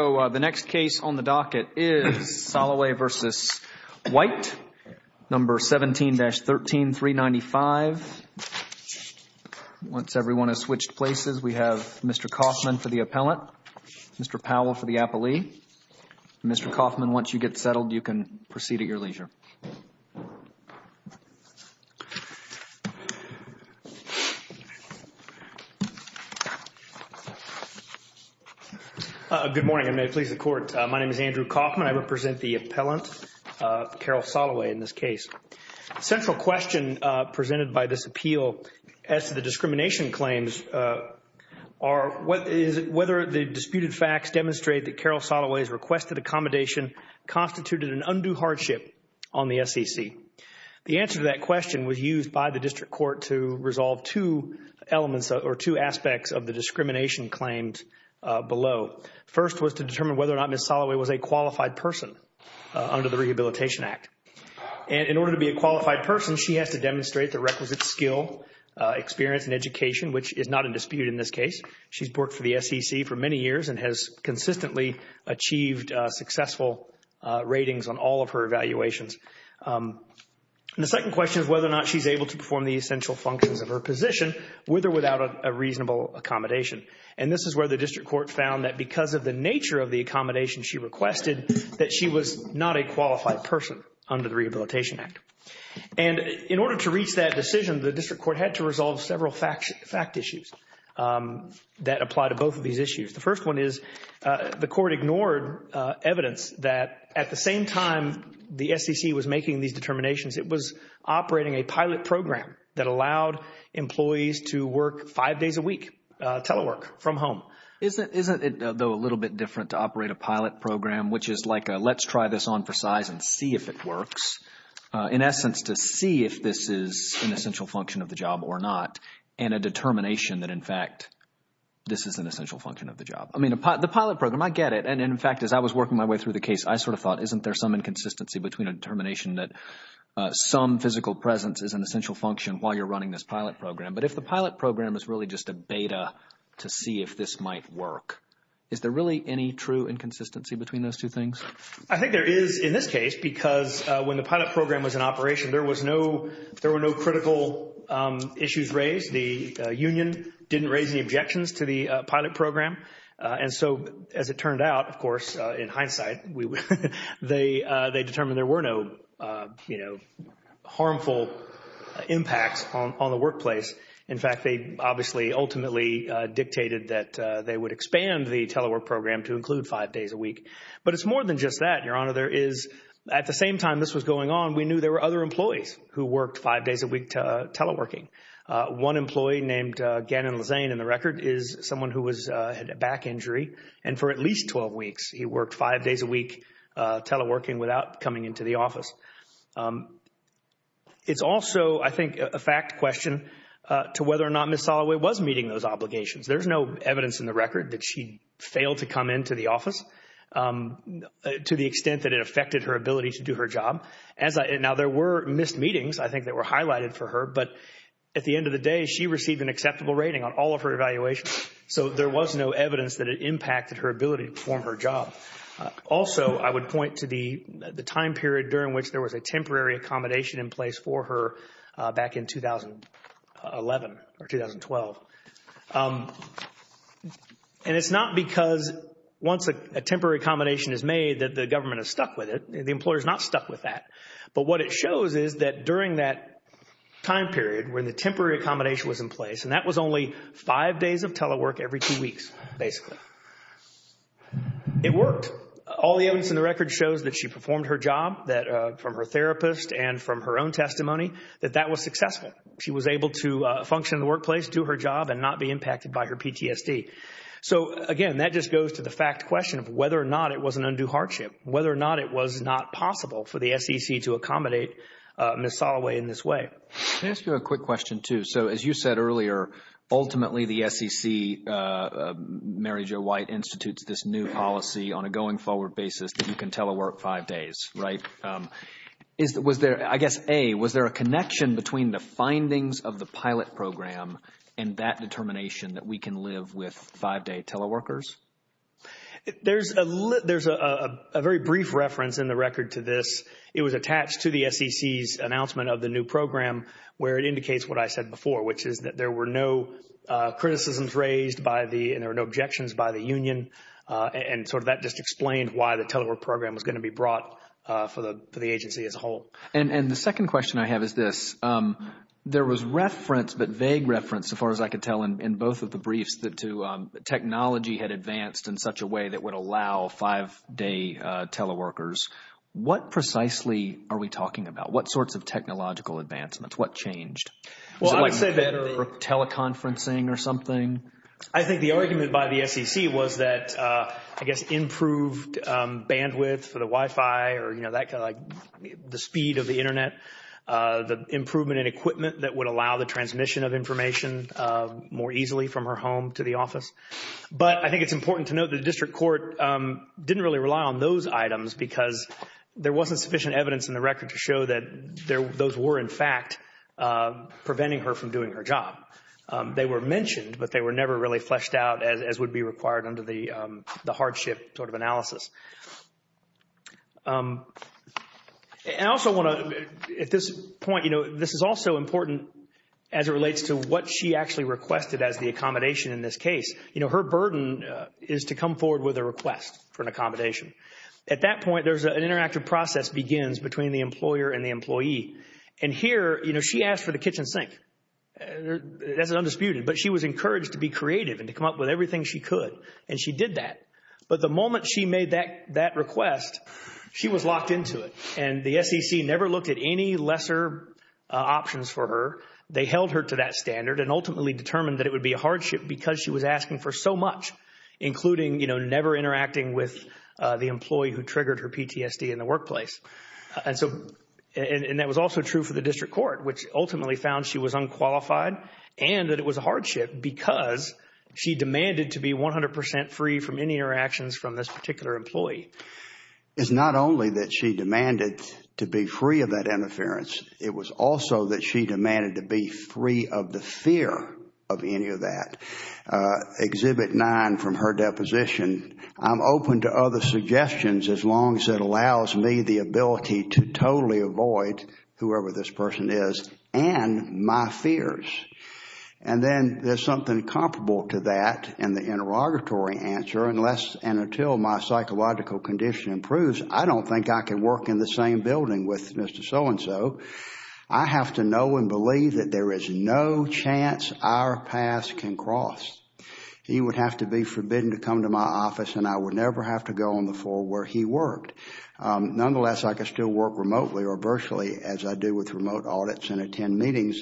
So the next case on the docket is Solloway v. White, No. 17-13395. Once everyone has switched places, we have Mr. Kaufman for the appellant, Mr. Powell for the appellee. Mr. Kaufman, once you get settled, you can proceed at your leisure. Good morning, and may it please the Court. My name is Andrew Kaufman. I represent the appellant, Carole Solloway, in this case. The central question presented by this appeal as to the discrimination claims are whether the disputed facts demonstrate that Carole Solloway's requested accommodation constituted an undue hardship on the SEC. The answer to that question was used by the District Court to resolve two elements or two aspects of the discrimination claims below. First was to determine whether or not Ms. Solloway was a qualified person under the Rehabilitation Act. And in order to be a qualified person, she has to demonstrate the requisite skill, experience, and education, which is not in dispute in this case. She's worked for the SEC for many years and has consistently achieved successful ratings on all of her evaluations. The second question is whether or not she's able to perform the essential functions of her position with or without a reasonable accommodation. And this is where the District Court found that because of the nature of the accommodation she requested, that she was not a qualified person under the Rehabilitation Act. And in order to reach that decision, the District Court had to resolve several fact issues that apply to both of these issues. The first one is the Court ignored evidence that at the same time the SEC was making these determinations, it was operating a pilot program that allowed employees to work five days a week, telework from home. Isn't it, though, a little bit different to operate a pilot program, which is like a let's try this on for size and see if it works? In essence, to see if this is an essential function of the job or not, and a determination that in fact, this is an essential function of the job. I mean, the pilot program, I get it, and in fact, as I was working my way through the case, I sort of thought, isn't there some inconsistency between a determination that some physical presence is an essential function while you're running this pilot program? But if the pilot program is really just a beta to see if this might work, is there really any true inconsistency between those two things? I think there is in this case, because when the pilot program was in operation, there was no, there were no critical issues raised. The union didn't raise any objections to the pilot program. And so as it turned out, of course, in hindsight, they determined there were no, you know, harmful impacts on the workplace. In fact, they obviously ultimately dictated that they would expand the telework program to include five days a week. But it's more than just that, Your Honor. There is, at the same time this was going on, we knew there were other employees who worked five days a week teleworking. One employee named Gannon Lezane in the record is someone who had a back injury, and for at least 12 weeks, he worked five days a week teleworking without coming into the office. It's also, I think, a fact question to whether or not Ms. Soloway was meeting those obligations. There's no evidence in the record that she failed to come into the office to the extent that it affected her ability to do her job. Now, there were missed meetings, I think, that were highlighted for her, but at the end of the day, she received an acceptable rating on all of her evaluations. So there was no evidence that it impacted her ability to perform her job. Also, I would point to the time period during which there was a temporary accommodation in place for her back in 2011 or 2012. And it's not because once a temporary accommodation is made that the government is stuck with it. The employer is not stuck with that. But what it shows is that during that time period when the temporary accommodation was in place, and that was only five days of telework every two weeks, basically, it worked. All the evidence in the record shows that she performed her job from her therapist and from her own testimony, that that was successful. She was able to function in the workplace, do her job, and not be impacted by her PTSD. So again, that just goes to the fact question of whether or not it was an undue hardship, whether or not it was not possible for the SEC to accommodate Ms. Soloway in this way. Can I ask you a quick question, too? So as you said earlier, ultimately, the SEC, Mary Jo White, institutes this new policy on a going forward basis that you can telework five days, right? I guess, A, was there a connection between the findings of the pilot program and that determination that we can live with five day teleworkers? There's a very brief reference in the record to this. It was attached to the SEC's announcement of the new program where it indicates what I said before, which is that there were no criticisms raised by the, and there were no objections by the union. And sort of that just explained why the telework program was going to be brought for the agency as a whole. And the second question I have is this. There was reference, but vague reference, so far as I could tell in both of the briefs, that technology had advanced in such a way that would allow five day teleworkers. What precisely are we talking about? What sorts of technological advancements? What changed? Well, I'd say that teleconferencing or something. I think the argument by the SEC was that, I guess, improved bandwidth for the Wi-Fi or, you know, that kind of like the speed of the Internet, the improvement in equipment that would allow the transmission of information more easily from her home to the office. But I think it's important to note the district court didn't really rely on those items because there wasn't sufficient evidence in the record to show that those were, in fact, preventing her from doing her job. They were mentioned, but they were never really fleshed out as would be required under the hardship sort of analysis. I also want to, at this point, you know, this is also important as it relates to what she actually requested as the accommodation in this case. You know, her burden is to come forward with a request for an accommodation. At that point, there's an interactive process begins between the employer and the employee. And here, you know, she asked for the kitchen sink. That's undisputed. But she was encouraged to be creative and to come up with everything she could. And she did that. But the moment she made that request, she was locked into it. And the SEC never looked at any lesser options for her. They held her to that standard and ultimately determined that it would be a hardship because she was asking for so much, including, you know, never interacting with the employee who triggered her PTSD in the workplace. And so, and that was also true for the district court, which ultimately found she was unqualified and that it was a hardship because she demanded to be 100 percent free from any interactions from this particular employee. It's not only that she demanded to be free of that interference. It was also that she demanded to be free of the fear of any of that. Exhibit nine from her deposition. I'm open to other suggestions as long as it allows me the ability to totally avoid whoever this person is and my fears. And then there's something comparable to that in the interrogatory answer. Unless and until my psychological condition improves, I don't think I can work in the same building with Mr. So-and-so. I have to know and believe that there is no chance our paths can cross. He would have to be forbidden to come to my office and I would never have to go on the floor where he worked. Nonetheless, I could still work remotely or virtually as I do with remote audits and attend meetings.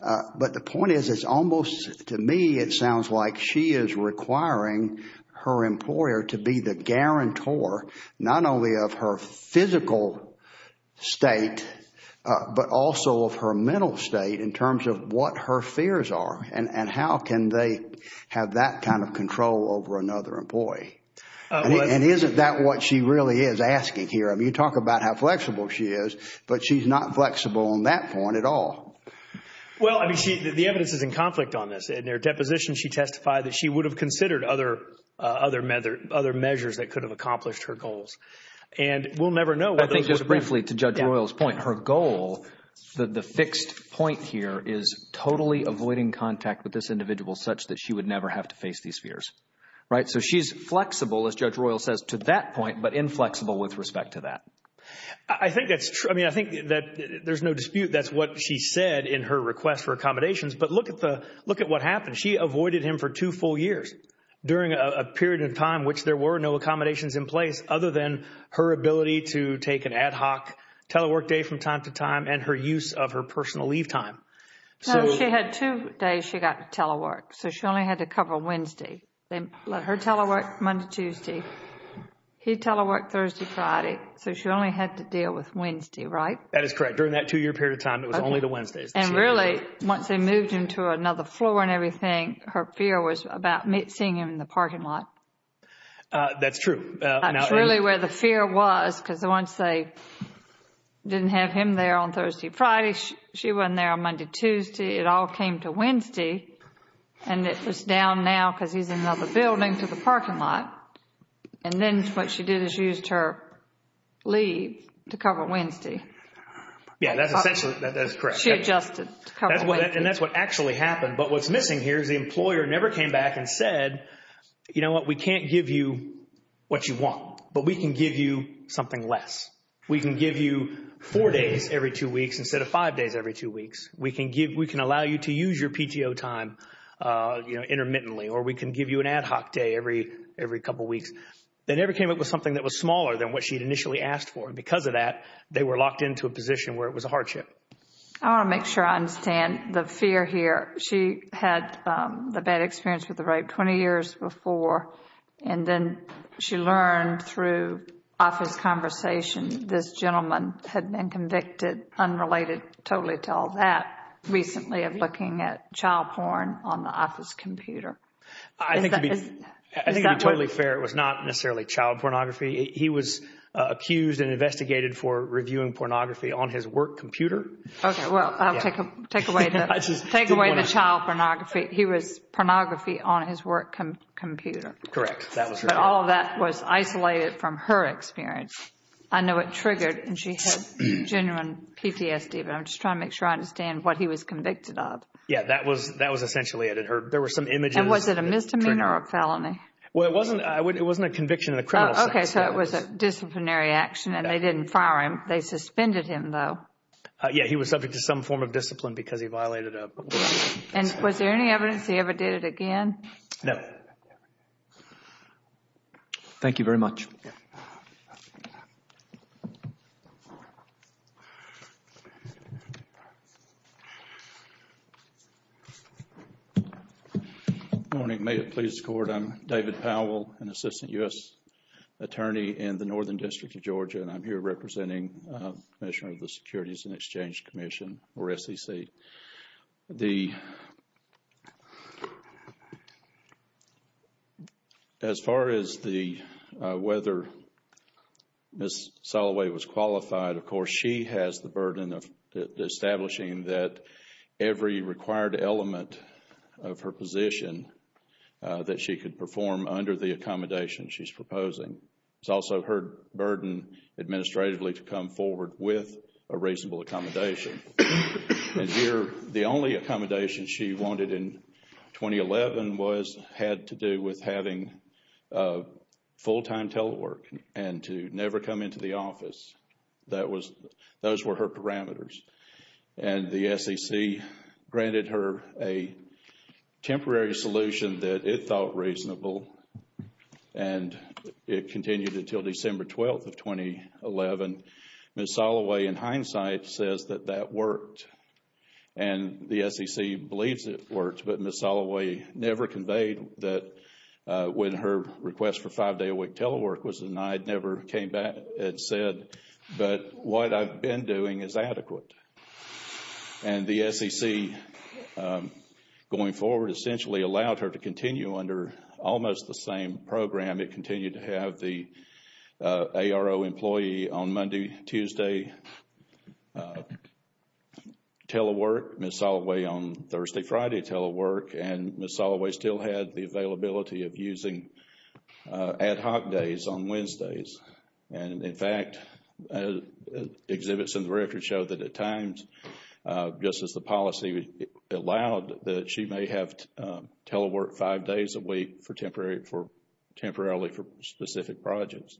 But the point is, it's almost to me, it sounds like she is requiring her employer to be the guarantor, not only of her physical state, but also of her mental state in terms of what her fears are. And how can they have that kind of control over another employee? And isn't that what she really is asking here? I mean, you talk about how flexible she is, but she's not flexible on that point at all. Well, I mean, the evidence is in conflict on this. In her deposition, she testified that she would have considered other measures that could have accomplished her goals. And we'll never know. I think just briefly to Judge Royal's point, her goal, the fixed point here is totally avoiding contact with this individual such that she would never have to face these fears. Right. So she's flexible, as Judge Royal says, to that point, but inflexible with respect to that. I think that's true. I mean, I think that there's no dispute. That's what she said in her request for accommodations. But look at the look at what happened. She avoided him for two full years during a period of time in which there were no accommodations in place other than her ability to take an ad hoc telework day from time to time and her use of her personal leave time. She had two days she got to telework, so she only had to cover Wednesday. Then let her telework Monday, Tuesday. He teleworked Thursday, Friday. So she only had to deal with Wednesday, right? That is correct. During that two year period of time, it was only the Wednesdays. And really, once they moved him to another floor and everything, her fear was about seeing him in the parking lot. That's true. That's really where the fear was, because once they didn't have him there on Thursday, Friday, she wasn't there on Monday, Tuesday. It all came to Wednesday and it was down now because he's in another building to the parking lot. And then what she did is used her leave to cover Wednesday. Yeah, that's essentially that is correct. She adjusted. And that's what actually happened. But what's missing here is the employer never came back and said, you know what, we can't give you what you want, but we can give you something less. We can give you four days every two weeks instead of five days every two weeks. We can give we can allow you to use your PTO time intermittently or we can give you an ad hoc day every every couple of weeks. They never came up with something that was smaller than what she'd initially asked for. And because of that, they were locked into a position where it was a hardship. I want to make sure I understand the fear here. She had the bad experience with the rape 20 years before, and then she learned through office conversation. This gentleman had been convicted, unrelated totally to all that, recently of looking at child porn on the office computer. I think to be totally fair, it was not necessarily child pornography. He was accused and investigated for reviewing pornography on his work computer. OK, well, I'll take away the child pornography. He was pornography on his work computer. Correct. That was all that was isolated from her experience. I know it triggered and she had genuine PTSD. But I'm just trying to make sure I understand what he was convicted of. Yeah, that was that was essentially it. It hurt. There were some images. Was it a misdemeanor or a felony? Well, it wasn't. It wasn't a conviction of the criminal. OK, so it was a disciplinary action and they didn't fire him. They suspended him, though. Yeah, he was subject to some form of discipline because he violated. And was there any evidence he ever did it again? No. Thank you very much. Morning, may it please the court. I'm David Powell, an assistant U.S. attorney in the Northern District of Georgia, and I'm here representing Commissioner of the Securities and Exchange Commission or SEC. The. As far as the whether Ms. Soloway was qualified, of course, she has the burden of establishing that every required element of her position that she could perform under the accommodation she's proposing. It's also her burden administratively to come forward with a reasonable accommodation. And here, the only accommodation she wanted in 2011 was had to do with having full time telework and to never come into the office. That was those were her parameters. And the SEC granted her a temporary solution that it thought reasonable. And it continued until December 12th of 2011. Ms. Soloway, in hindsight, says that that worked and the SEC believes it worked. But Ms. Soloway never conveyed that when her request for five day a week telework was denied, never came back and said, but what I've been doing is adequate. And the SEC going forward essentially allowed her to continue under almost the same program. It continued to have the ARO employee on Monday, Tuesday telework, Ms. Soloway on Thursday, Friday telework. And Ms. Soloway still had the availability of using ad hoc days on Wednesdays. And in fact, exhibits in the record show that at times, just as the policy allowed, that she may have telework five days a week for temporarily for specific projects.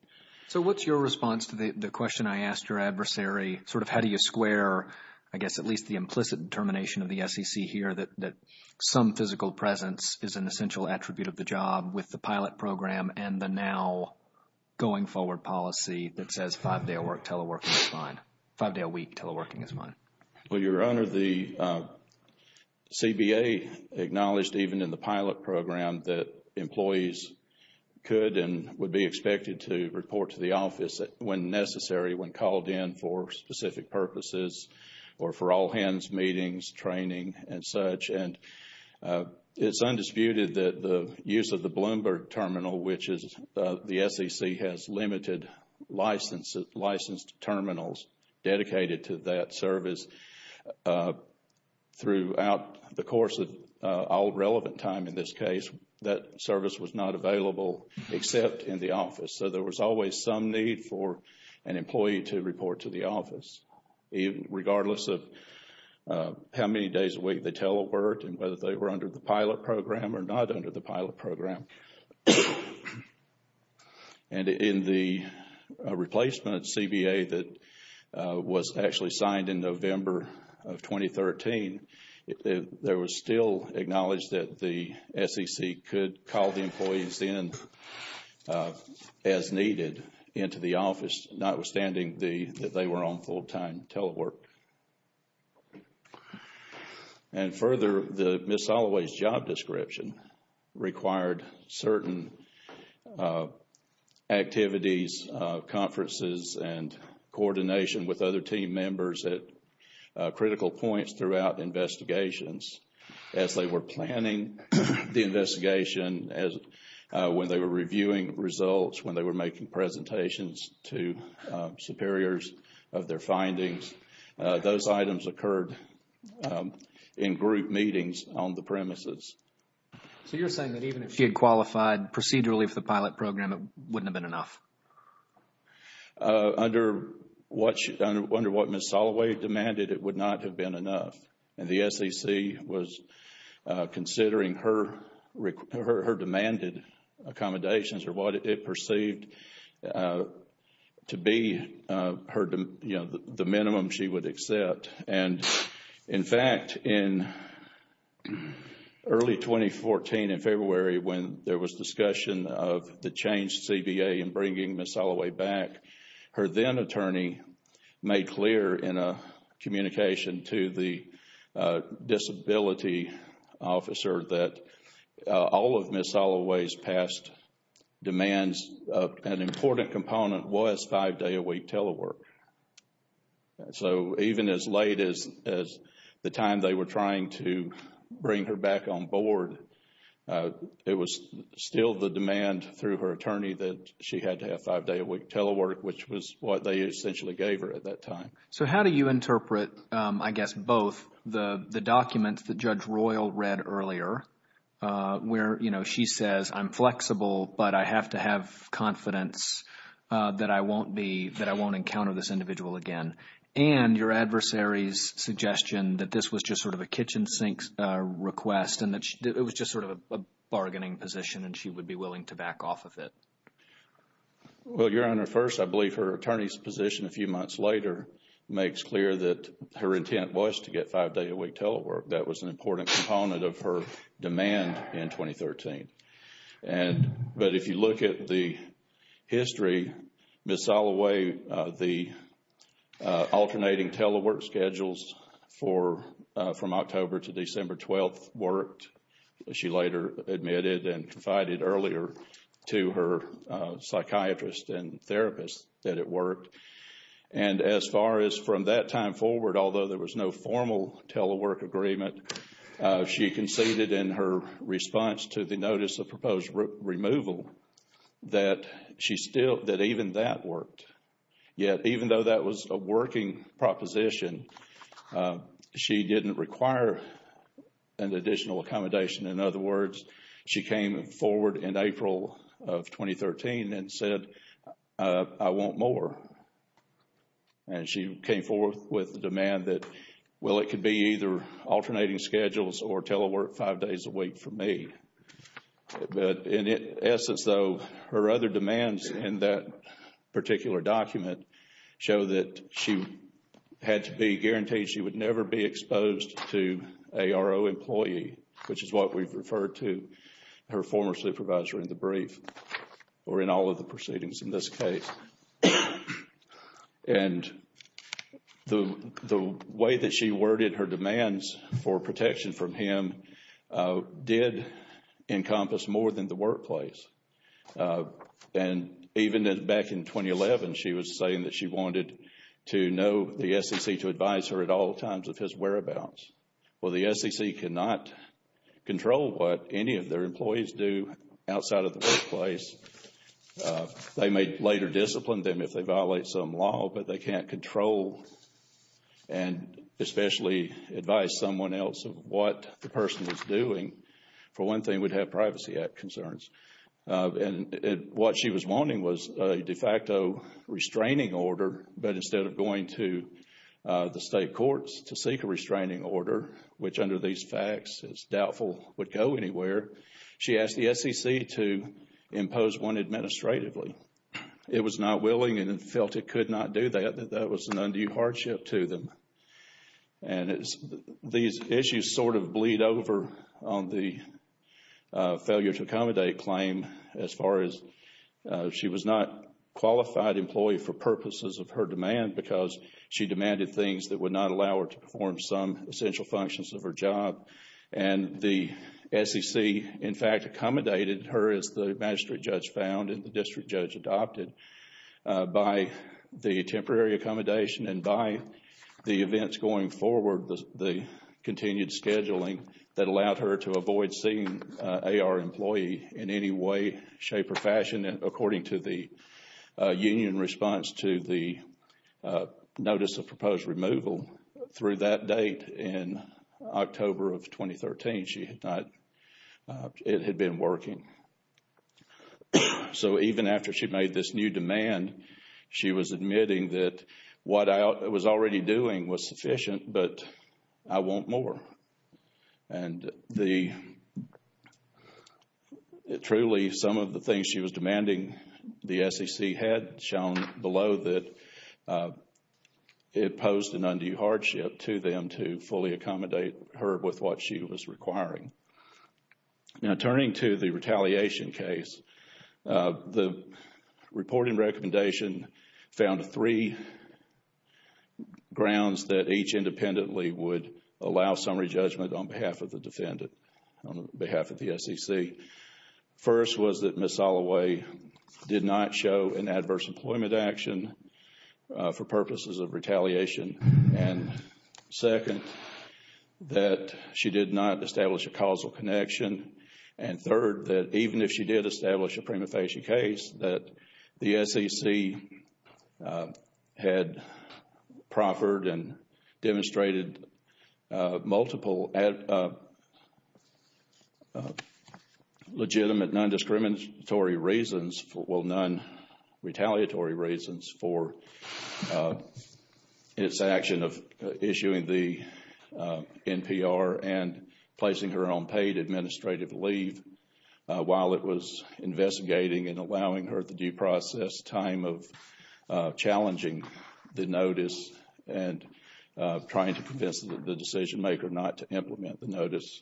So what's your response to the question I asked your adversary? Sort of how do you square, I guess, at least the implicit determination of the SEC here that some physical presence is an essential attribute of the job with the pilot program and the now going forward policy that says five day a week teleworking is fine? Well, Your Honor, the CBA acknowledged even in the pilot program that employees could and would be expected to report to the office when necessary, when called in for specific purposes or for all hands, meetings, training and such. And it's undisputed that the use of the Bloomberg terminal, which is the SEC, has limited license, licensed terminals dedicated to that service throughout the course of all relevant time. In this case, that service was not available except in the office. So there was always some need for an employee to report to the office, regardless of how many days a week they teleworked and whether they were under the pilot program or not under the pilot program. And in the replacement CBA that was actually signed in November of 2013, there was still acknowledged that the SEC could call the employees in as needed into the office, notwithstanding the that they were on full time telework. And further, the Ms. Holloway's job description required certain activities, conferences and coordination with other team members at critical points throughout investigations as they were planning the investigation, as when they were reviewing results, when they were making presentations to superiors of their findings. Those items occurred in group meetings on the premises. So you're saying that even if she had qualified procedurally for the pilot program, it wouldn't have been enough? Under what she, under what Ms. Holloway demanded, it would not have been enough. And the SEC was considering her her demanded accommodations or what it perceived to be her, you know, the minimum she would accept. And in fact, in early 2014, in February, when there was discussion of the changed CBA and bringing Ms. Holloway back, her then attorney made clear in a communication to the disability officer that all of Ms. Holloway's past demands an important component was five day a week telework. So even as late as the time they were trying to bring her back on board, it was still the demand through her attorney that she had to have five day a week telework, which was what they essentially gave her at that time. So how do you interpret, I guess, both the documents that Judge Royal read earlier where, you know, she says, I'm flexible, but I have to have confidence that I won't be, that I won't encounter this individual again. And your adversary's suggestion that this was just sort of a kitchen sink request and that it was just sort of a bargaining position and she would be willing to back off of it. Well, Your Honor, first, I believe her attorney's position a few months later makes clear that her intent was to get five day a week telework. That was an important component of her demand in 2013. And but if you look at the history, Ms. Soloway, the alternating telework schedules for from October to December 12th worked. She later admitted and confided earlier to her psychiatrist and therapist that it worked. And as far as from that time forward, although there was no formal telework agreement, she conceded in her response to the notice of proposed removal that she still that even that worked. Yet even though that was a working proposition, she didn't require an additional accommodation. In other words, she came forward in April of 2013 and said, I want more. And she came forth with the demand that, well, it could be either alternating schedules or telework five days a week for me. But in essence, though, her other demands in that particular document show that she had to be guaranteed she would never be exposed to a ARO employee, which is what we've referred to her former supervisor in the brief or in all of the proceedings in this case. And the way that she worded her demands for protection from him did encompass more than the workplace. And even back in 2011, she was saying that she wanted to know the SEC to advise her at all times of his whereabouts. Well, the SEC could not control what any of their employees do outside of the workplace. They may later discipline them if they violate some law, but they can't control and especially advise someone else of what the person is doing. For one thing, we'd have Privacy Act concerns. And what she was wanting was a de facto restraining order. But instead of going to the state courts to seek a restraining order, which under these facts is doubtful, would go anywhere. She asked the SEC to impose one administratively. It was not willing and felt it could not do that. That was an undue hardship to them. And these issues sort of bleed over on the failure to accommodate claim as far as she was not qualified employee for purposes of her demand because she demanded things that would not allow her to perform some essential functions of her job. And the SEC, in fact, accommodated her, as the magistrate judge found and the district judge adopted by the temporary accommodation and by the events going forward, the continued scheduling that allowed her to avoid seeing a our employee in any way, shape or fashion. According to the union response to the notice of proposed removal through that date in October of 2013, she had not. It had been working. So even after she made this new demand, she was admitting that what I was already doing was sufficient, but I want more. And the. Truly, some of the things she was demanding, the SEC had shown below that it posed an undue hardship to them to fully accommodate her with what she was requiring. Now, turning to the retaliation case, the reporting recommendation found three grounds that each independently would allow summary judgment on behalf of the defendant, on behalf of the SEC. First was that Ms. For purposes of retaliation. And second, that she did not establish a causal connection. And third, that even if she did establish a prima facie case, that the SEC had proffered and demonstrated multiple at legitimate, non-discriminatory reasons for well, non-retaliatory reasons for its action of issuing the NPR and placing her on paid administrative leave while it was investigating and allowing her at the due process time of challenging the notice and trying to convince the decision maker not to implement the notice.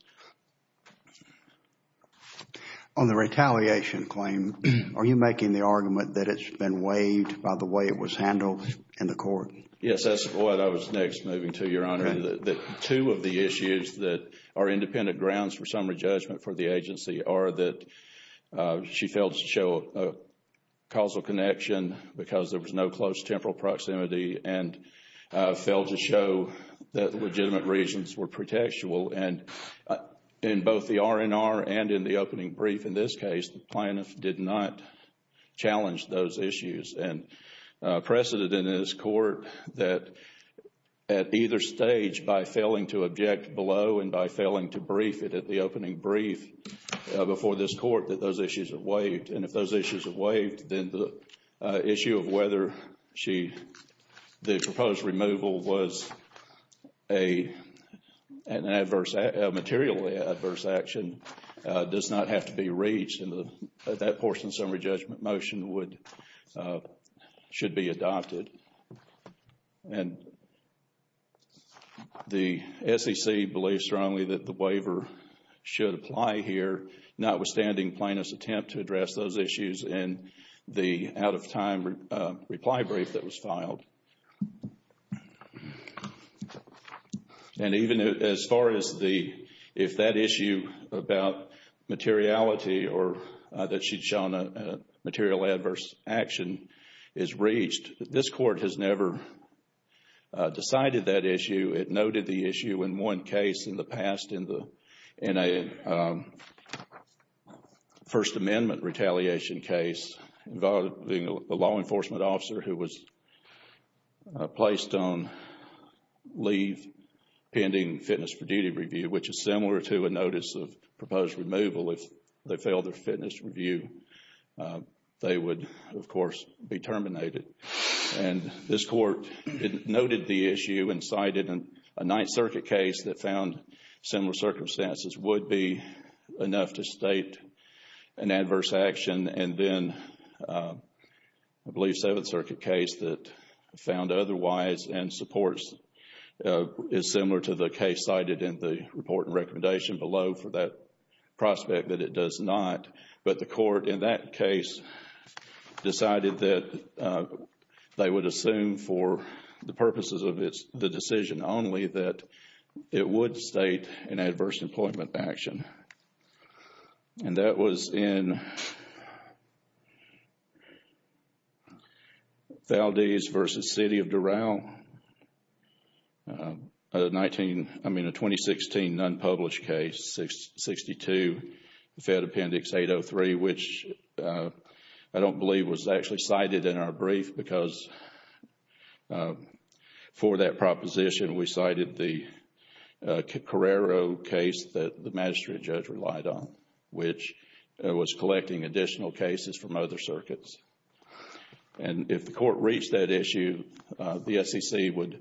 On the retaliation claim, are you making the argument that it's been waived by the way it was handled in the court? Yes, that's what I was next moving to, Your Honor. That two of the issues that are independent grounds for summary judgment for the agency are that she failed to show a causal connection because there was no close temporal proximity and failed to show that the legitimate reasons were pretextual. And in both the R&R and in the opening brief, in this case, the plaintiff did not challenge those issues. And precedent in this court that at either stage, by failing to object below and by failing to brief it at the opening brief before this court, that those issues are waived. And if those issues are waived, then the issue of whether she the proposed removal was a material adverse action does not have to be reached in that portion. Summary judgment motion should be adopted. And the SEC believes strongly that the waiver should apply here, notwithstanding plaintiff's attempt to address those issues in the out of time reply brief that was filed. And even as far as the if that issue about materiality or that she'd shown a material adverse action is reached, this court has never decided that issue. It noted the issue in one case in the past in the in a First Amendment retaliation case involving a law enforcement officer who was placed on pending fitness for duty review, which is similar to a notice of proposed removal if they fail their fitness review. They would, of course, be terminated. And this court noted the issue and cited a Ninth Circuit case that found similar circumstances would be enough to state an adverse action. And then I believe Seventh Circuit case that found otherwise and supports is similar to the case cited in the report and recommendation below for that prospect that it does not. But the court in that case decided that they would assume for the purposes of the decision only that it would state an adverse employment action. And that was in Duraldez v. City of Dural, 19, I mean, a 2016 unpublished case, 62, the Fed Appendix 803, which I don't believe was actually cited in our brief because for that proposition, we cited the Carrero case that the magistrate judge relied on, which was collecting additional cases from other circuits. And if the court reached that issue, the SEC would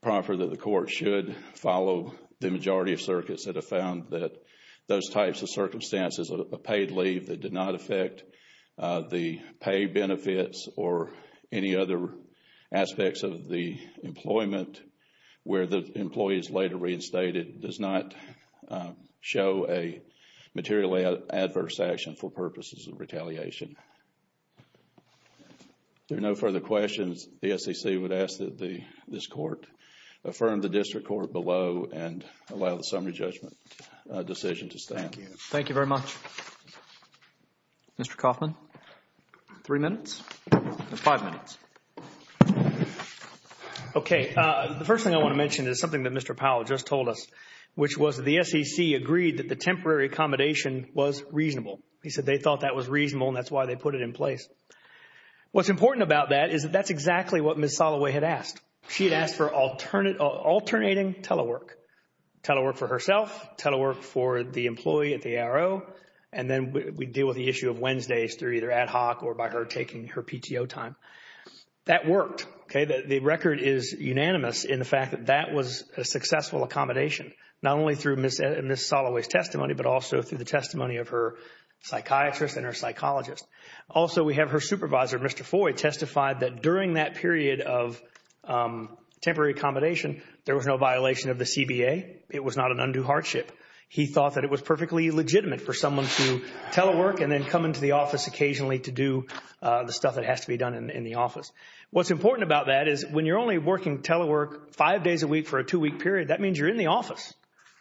proffer that the court should follow the majority of circuits that have found that those types of circumstances, a paid leave that did not affect the pay benefits or any other aspects of the employment where the employee is later reinstated, does not show a materially adverse action for purposes of retaliation. There are no further questions. The SEC would ask that this court affirm the district court below and allow the summary judgment decision to stand. Thank you very much. Mr. Kaufman, three minutes, five minutes. OK, the first thing I want to mention is something that Mr. Kaufman said, the SEC agreed that the temporary accommodation was reasonable. He said they thought that was reasonable and that's why they put it in place. What's important about that is that that's exactly what Ms. Soloway had asked. She had asked for alternating telework, telework for herself, telework for the employee at the ARO. And then we deal with the issue of Wednesdays through either ad hoc or by her taking her PTO time. That worked. OK, the record is unanimous in the fact that that was a successful accommodation, not only through Ms. Soloway's testimony, but also through the testimony of her psychiatrist and her psychologist. Also, we have her supervisor, Mr. Foy, testified that during that period of temporary accommodation, there was no violation of the CBA. It was not an undue hardship. He thought that it was perfectly legitimate for someone to telework and then come into the office occasionally to do the stuff that has to be done in the office. What's important about that is when you're only working telework five days a week for a two week period, that means you're in the office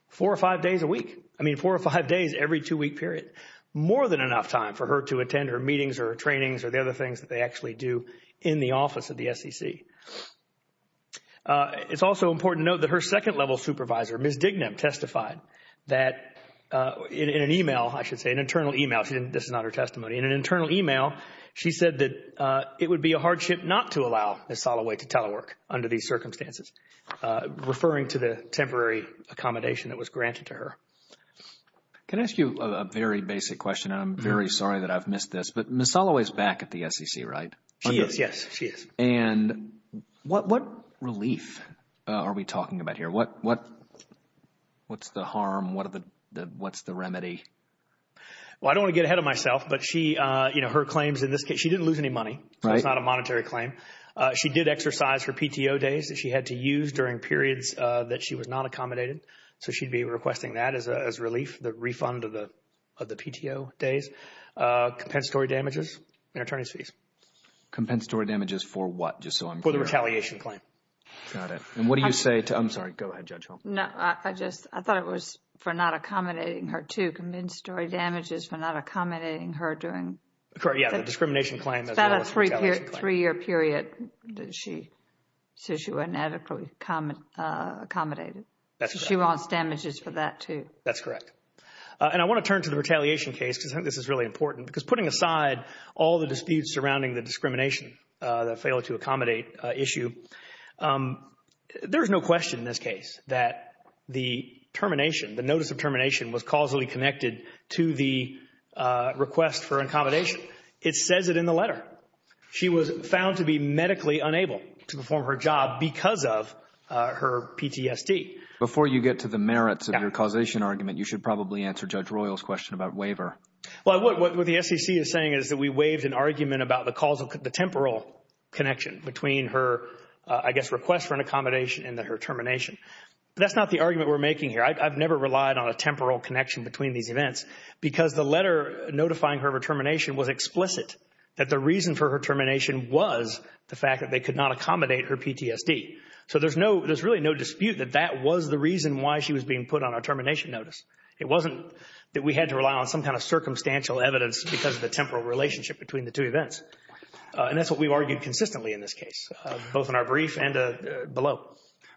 four or five days a week. I mean, four or five days every two week period. More than enough time for her to attend her meetings or trainings or the other things that they actually do in the office of the SEC. It's also important to note that her second level supervisor, Ms. Dignam, testified that in an email, I should say an internal email. This is not her testimony. In an internal email, she said that it would be a hardship not to allow Ms. Soloway to telework under these circumstances, referring to the temporary accommodation that was granted to her. Can I ask you a very basic question? I'm very sorry that I've missed this, but Ms. Soloway is back at the SEC, right? She is. Yes, she is. And what what relief are we talking about here? What what what's the harm? What are the what's the remedy? Well, I don't want to get ahead of myself, but she you know, her claims in this case, she didn't lose any money, so it's not a monetary claim. She did exercise her PTO days that she had to use during periods that she was not accommodated. So she'd be requesting that as a relief, the refund of the of the PTO days, compensatory damages and attorney's fees. Compensatory damages for what? Just so I'm clear. For the retaliation claim. Got it. And what do you say to I'm sorry. Go ahead, Judge Hull. No, I just I thought it was for not accommodating her to compensatory damages for not accommodating her during. Correct. Yeah, the discrimination claim. That's about a three year period that she says she inadequately accommodated. She wants damages for that, too. That's correct. And I want to turn to the retaliation case because I think this is really important because putting aside all the disputes surrounding the discrimination that failed to accommodate issue. There's no question in this case that the termination, the notice of termination was causally connected to the request for accommodation. It says it in the letter. She was found to be medically unable to perform her job because of her PTSD. Before you get to the merits of your causation argument, you should probably answer Judge Royal's question about waiver. Well, what the SEC is saying is that we waived an argument about the causal, the temporal connection between her, I guess, request for an accommodation and her termination. That's not the argument we're making here. I've never relied on a temporal connection between these events because the letter notifying her of her termination was explicit that the reason for her termination was the fact that they could not accommodate her PTSD. So there's no, there's really no dispute that that was the reason why she was being put on a termination notice. It wasn't that we had to rely on some kind of circumstantial evidence because of the temporal relationship between the two events. And that's what we've argued consistently in this case, both in our brief and below.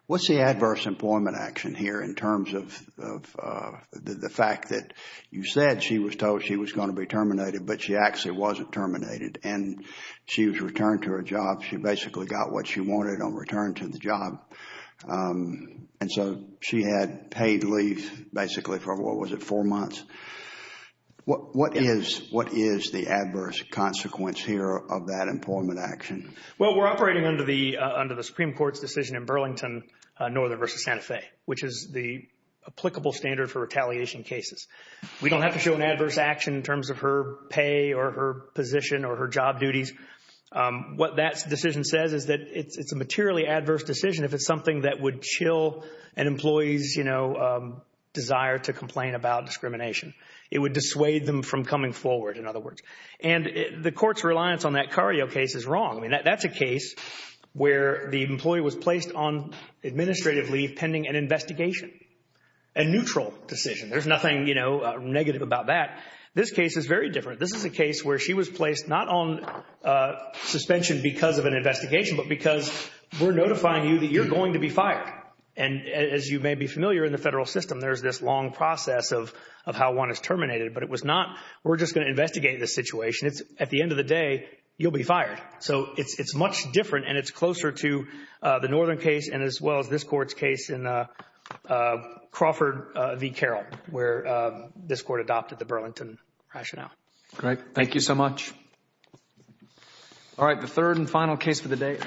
What's the adverse employment action here in terms of the fact that you said she was told she was going to be terminated, but she actually wasn't terminated and she was returned to her job. She basically got what she wanted on return to the job. And so she had paid leave basically for, what was it, four months. What is the adverse consequence here of that employment action? Well, we're operating under the Supreme Court's decision in Burlington Northern versus Santa Fe, which is the applicable standard for retaliation cases. We don't have to show an adverse action in terms of her pay or her position or her job duties. What that decision says is that it's a materially adverse decision if it's something that would chill an employee's, you know, desire to complain about discrimination. It would dissuade them from coming forward, in other words. And the court's reliance on that Cario case is wrong. I mean, that's a case where the employee was placed on administrative leave pending an investigation, a neutral decision. There's nothing, you know, negative about that. This case is very different. This is a case where she was placed not on suspension because of an investigation, but because we're notifying you that you're going to be fired. And as you may be familiar in the federal system, there's this long process of of how one is terminated. But it was not, we're just going to investigate the situation. It's at the end of the day, you'll be fired. So it's much different and it's closer to the Northern case. And as well as this court's case in Crawford v Carroll, where this court adopted the Burlington rationale. Great. Thank you so much. All right. The third and final case for the day.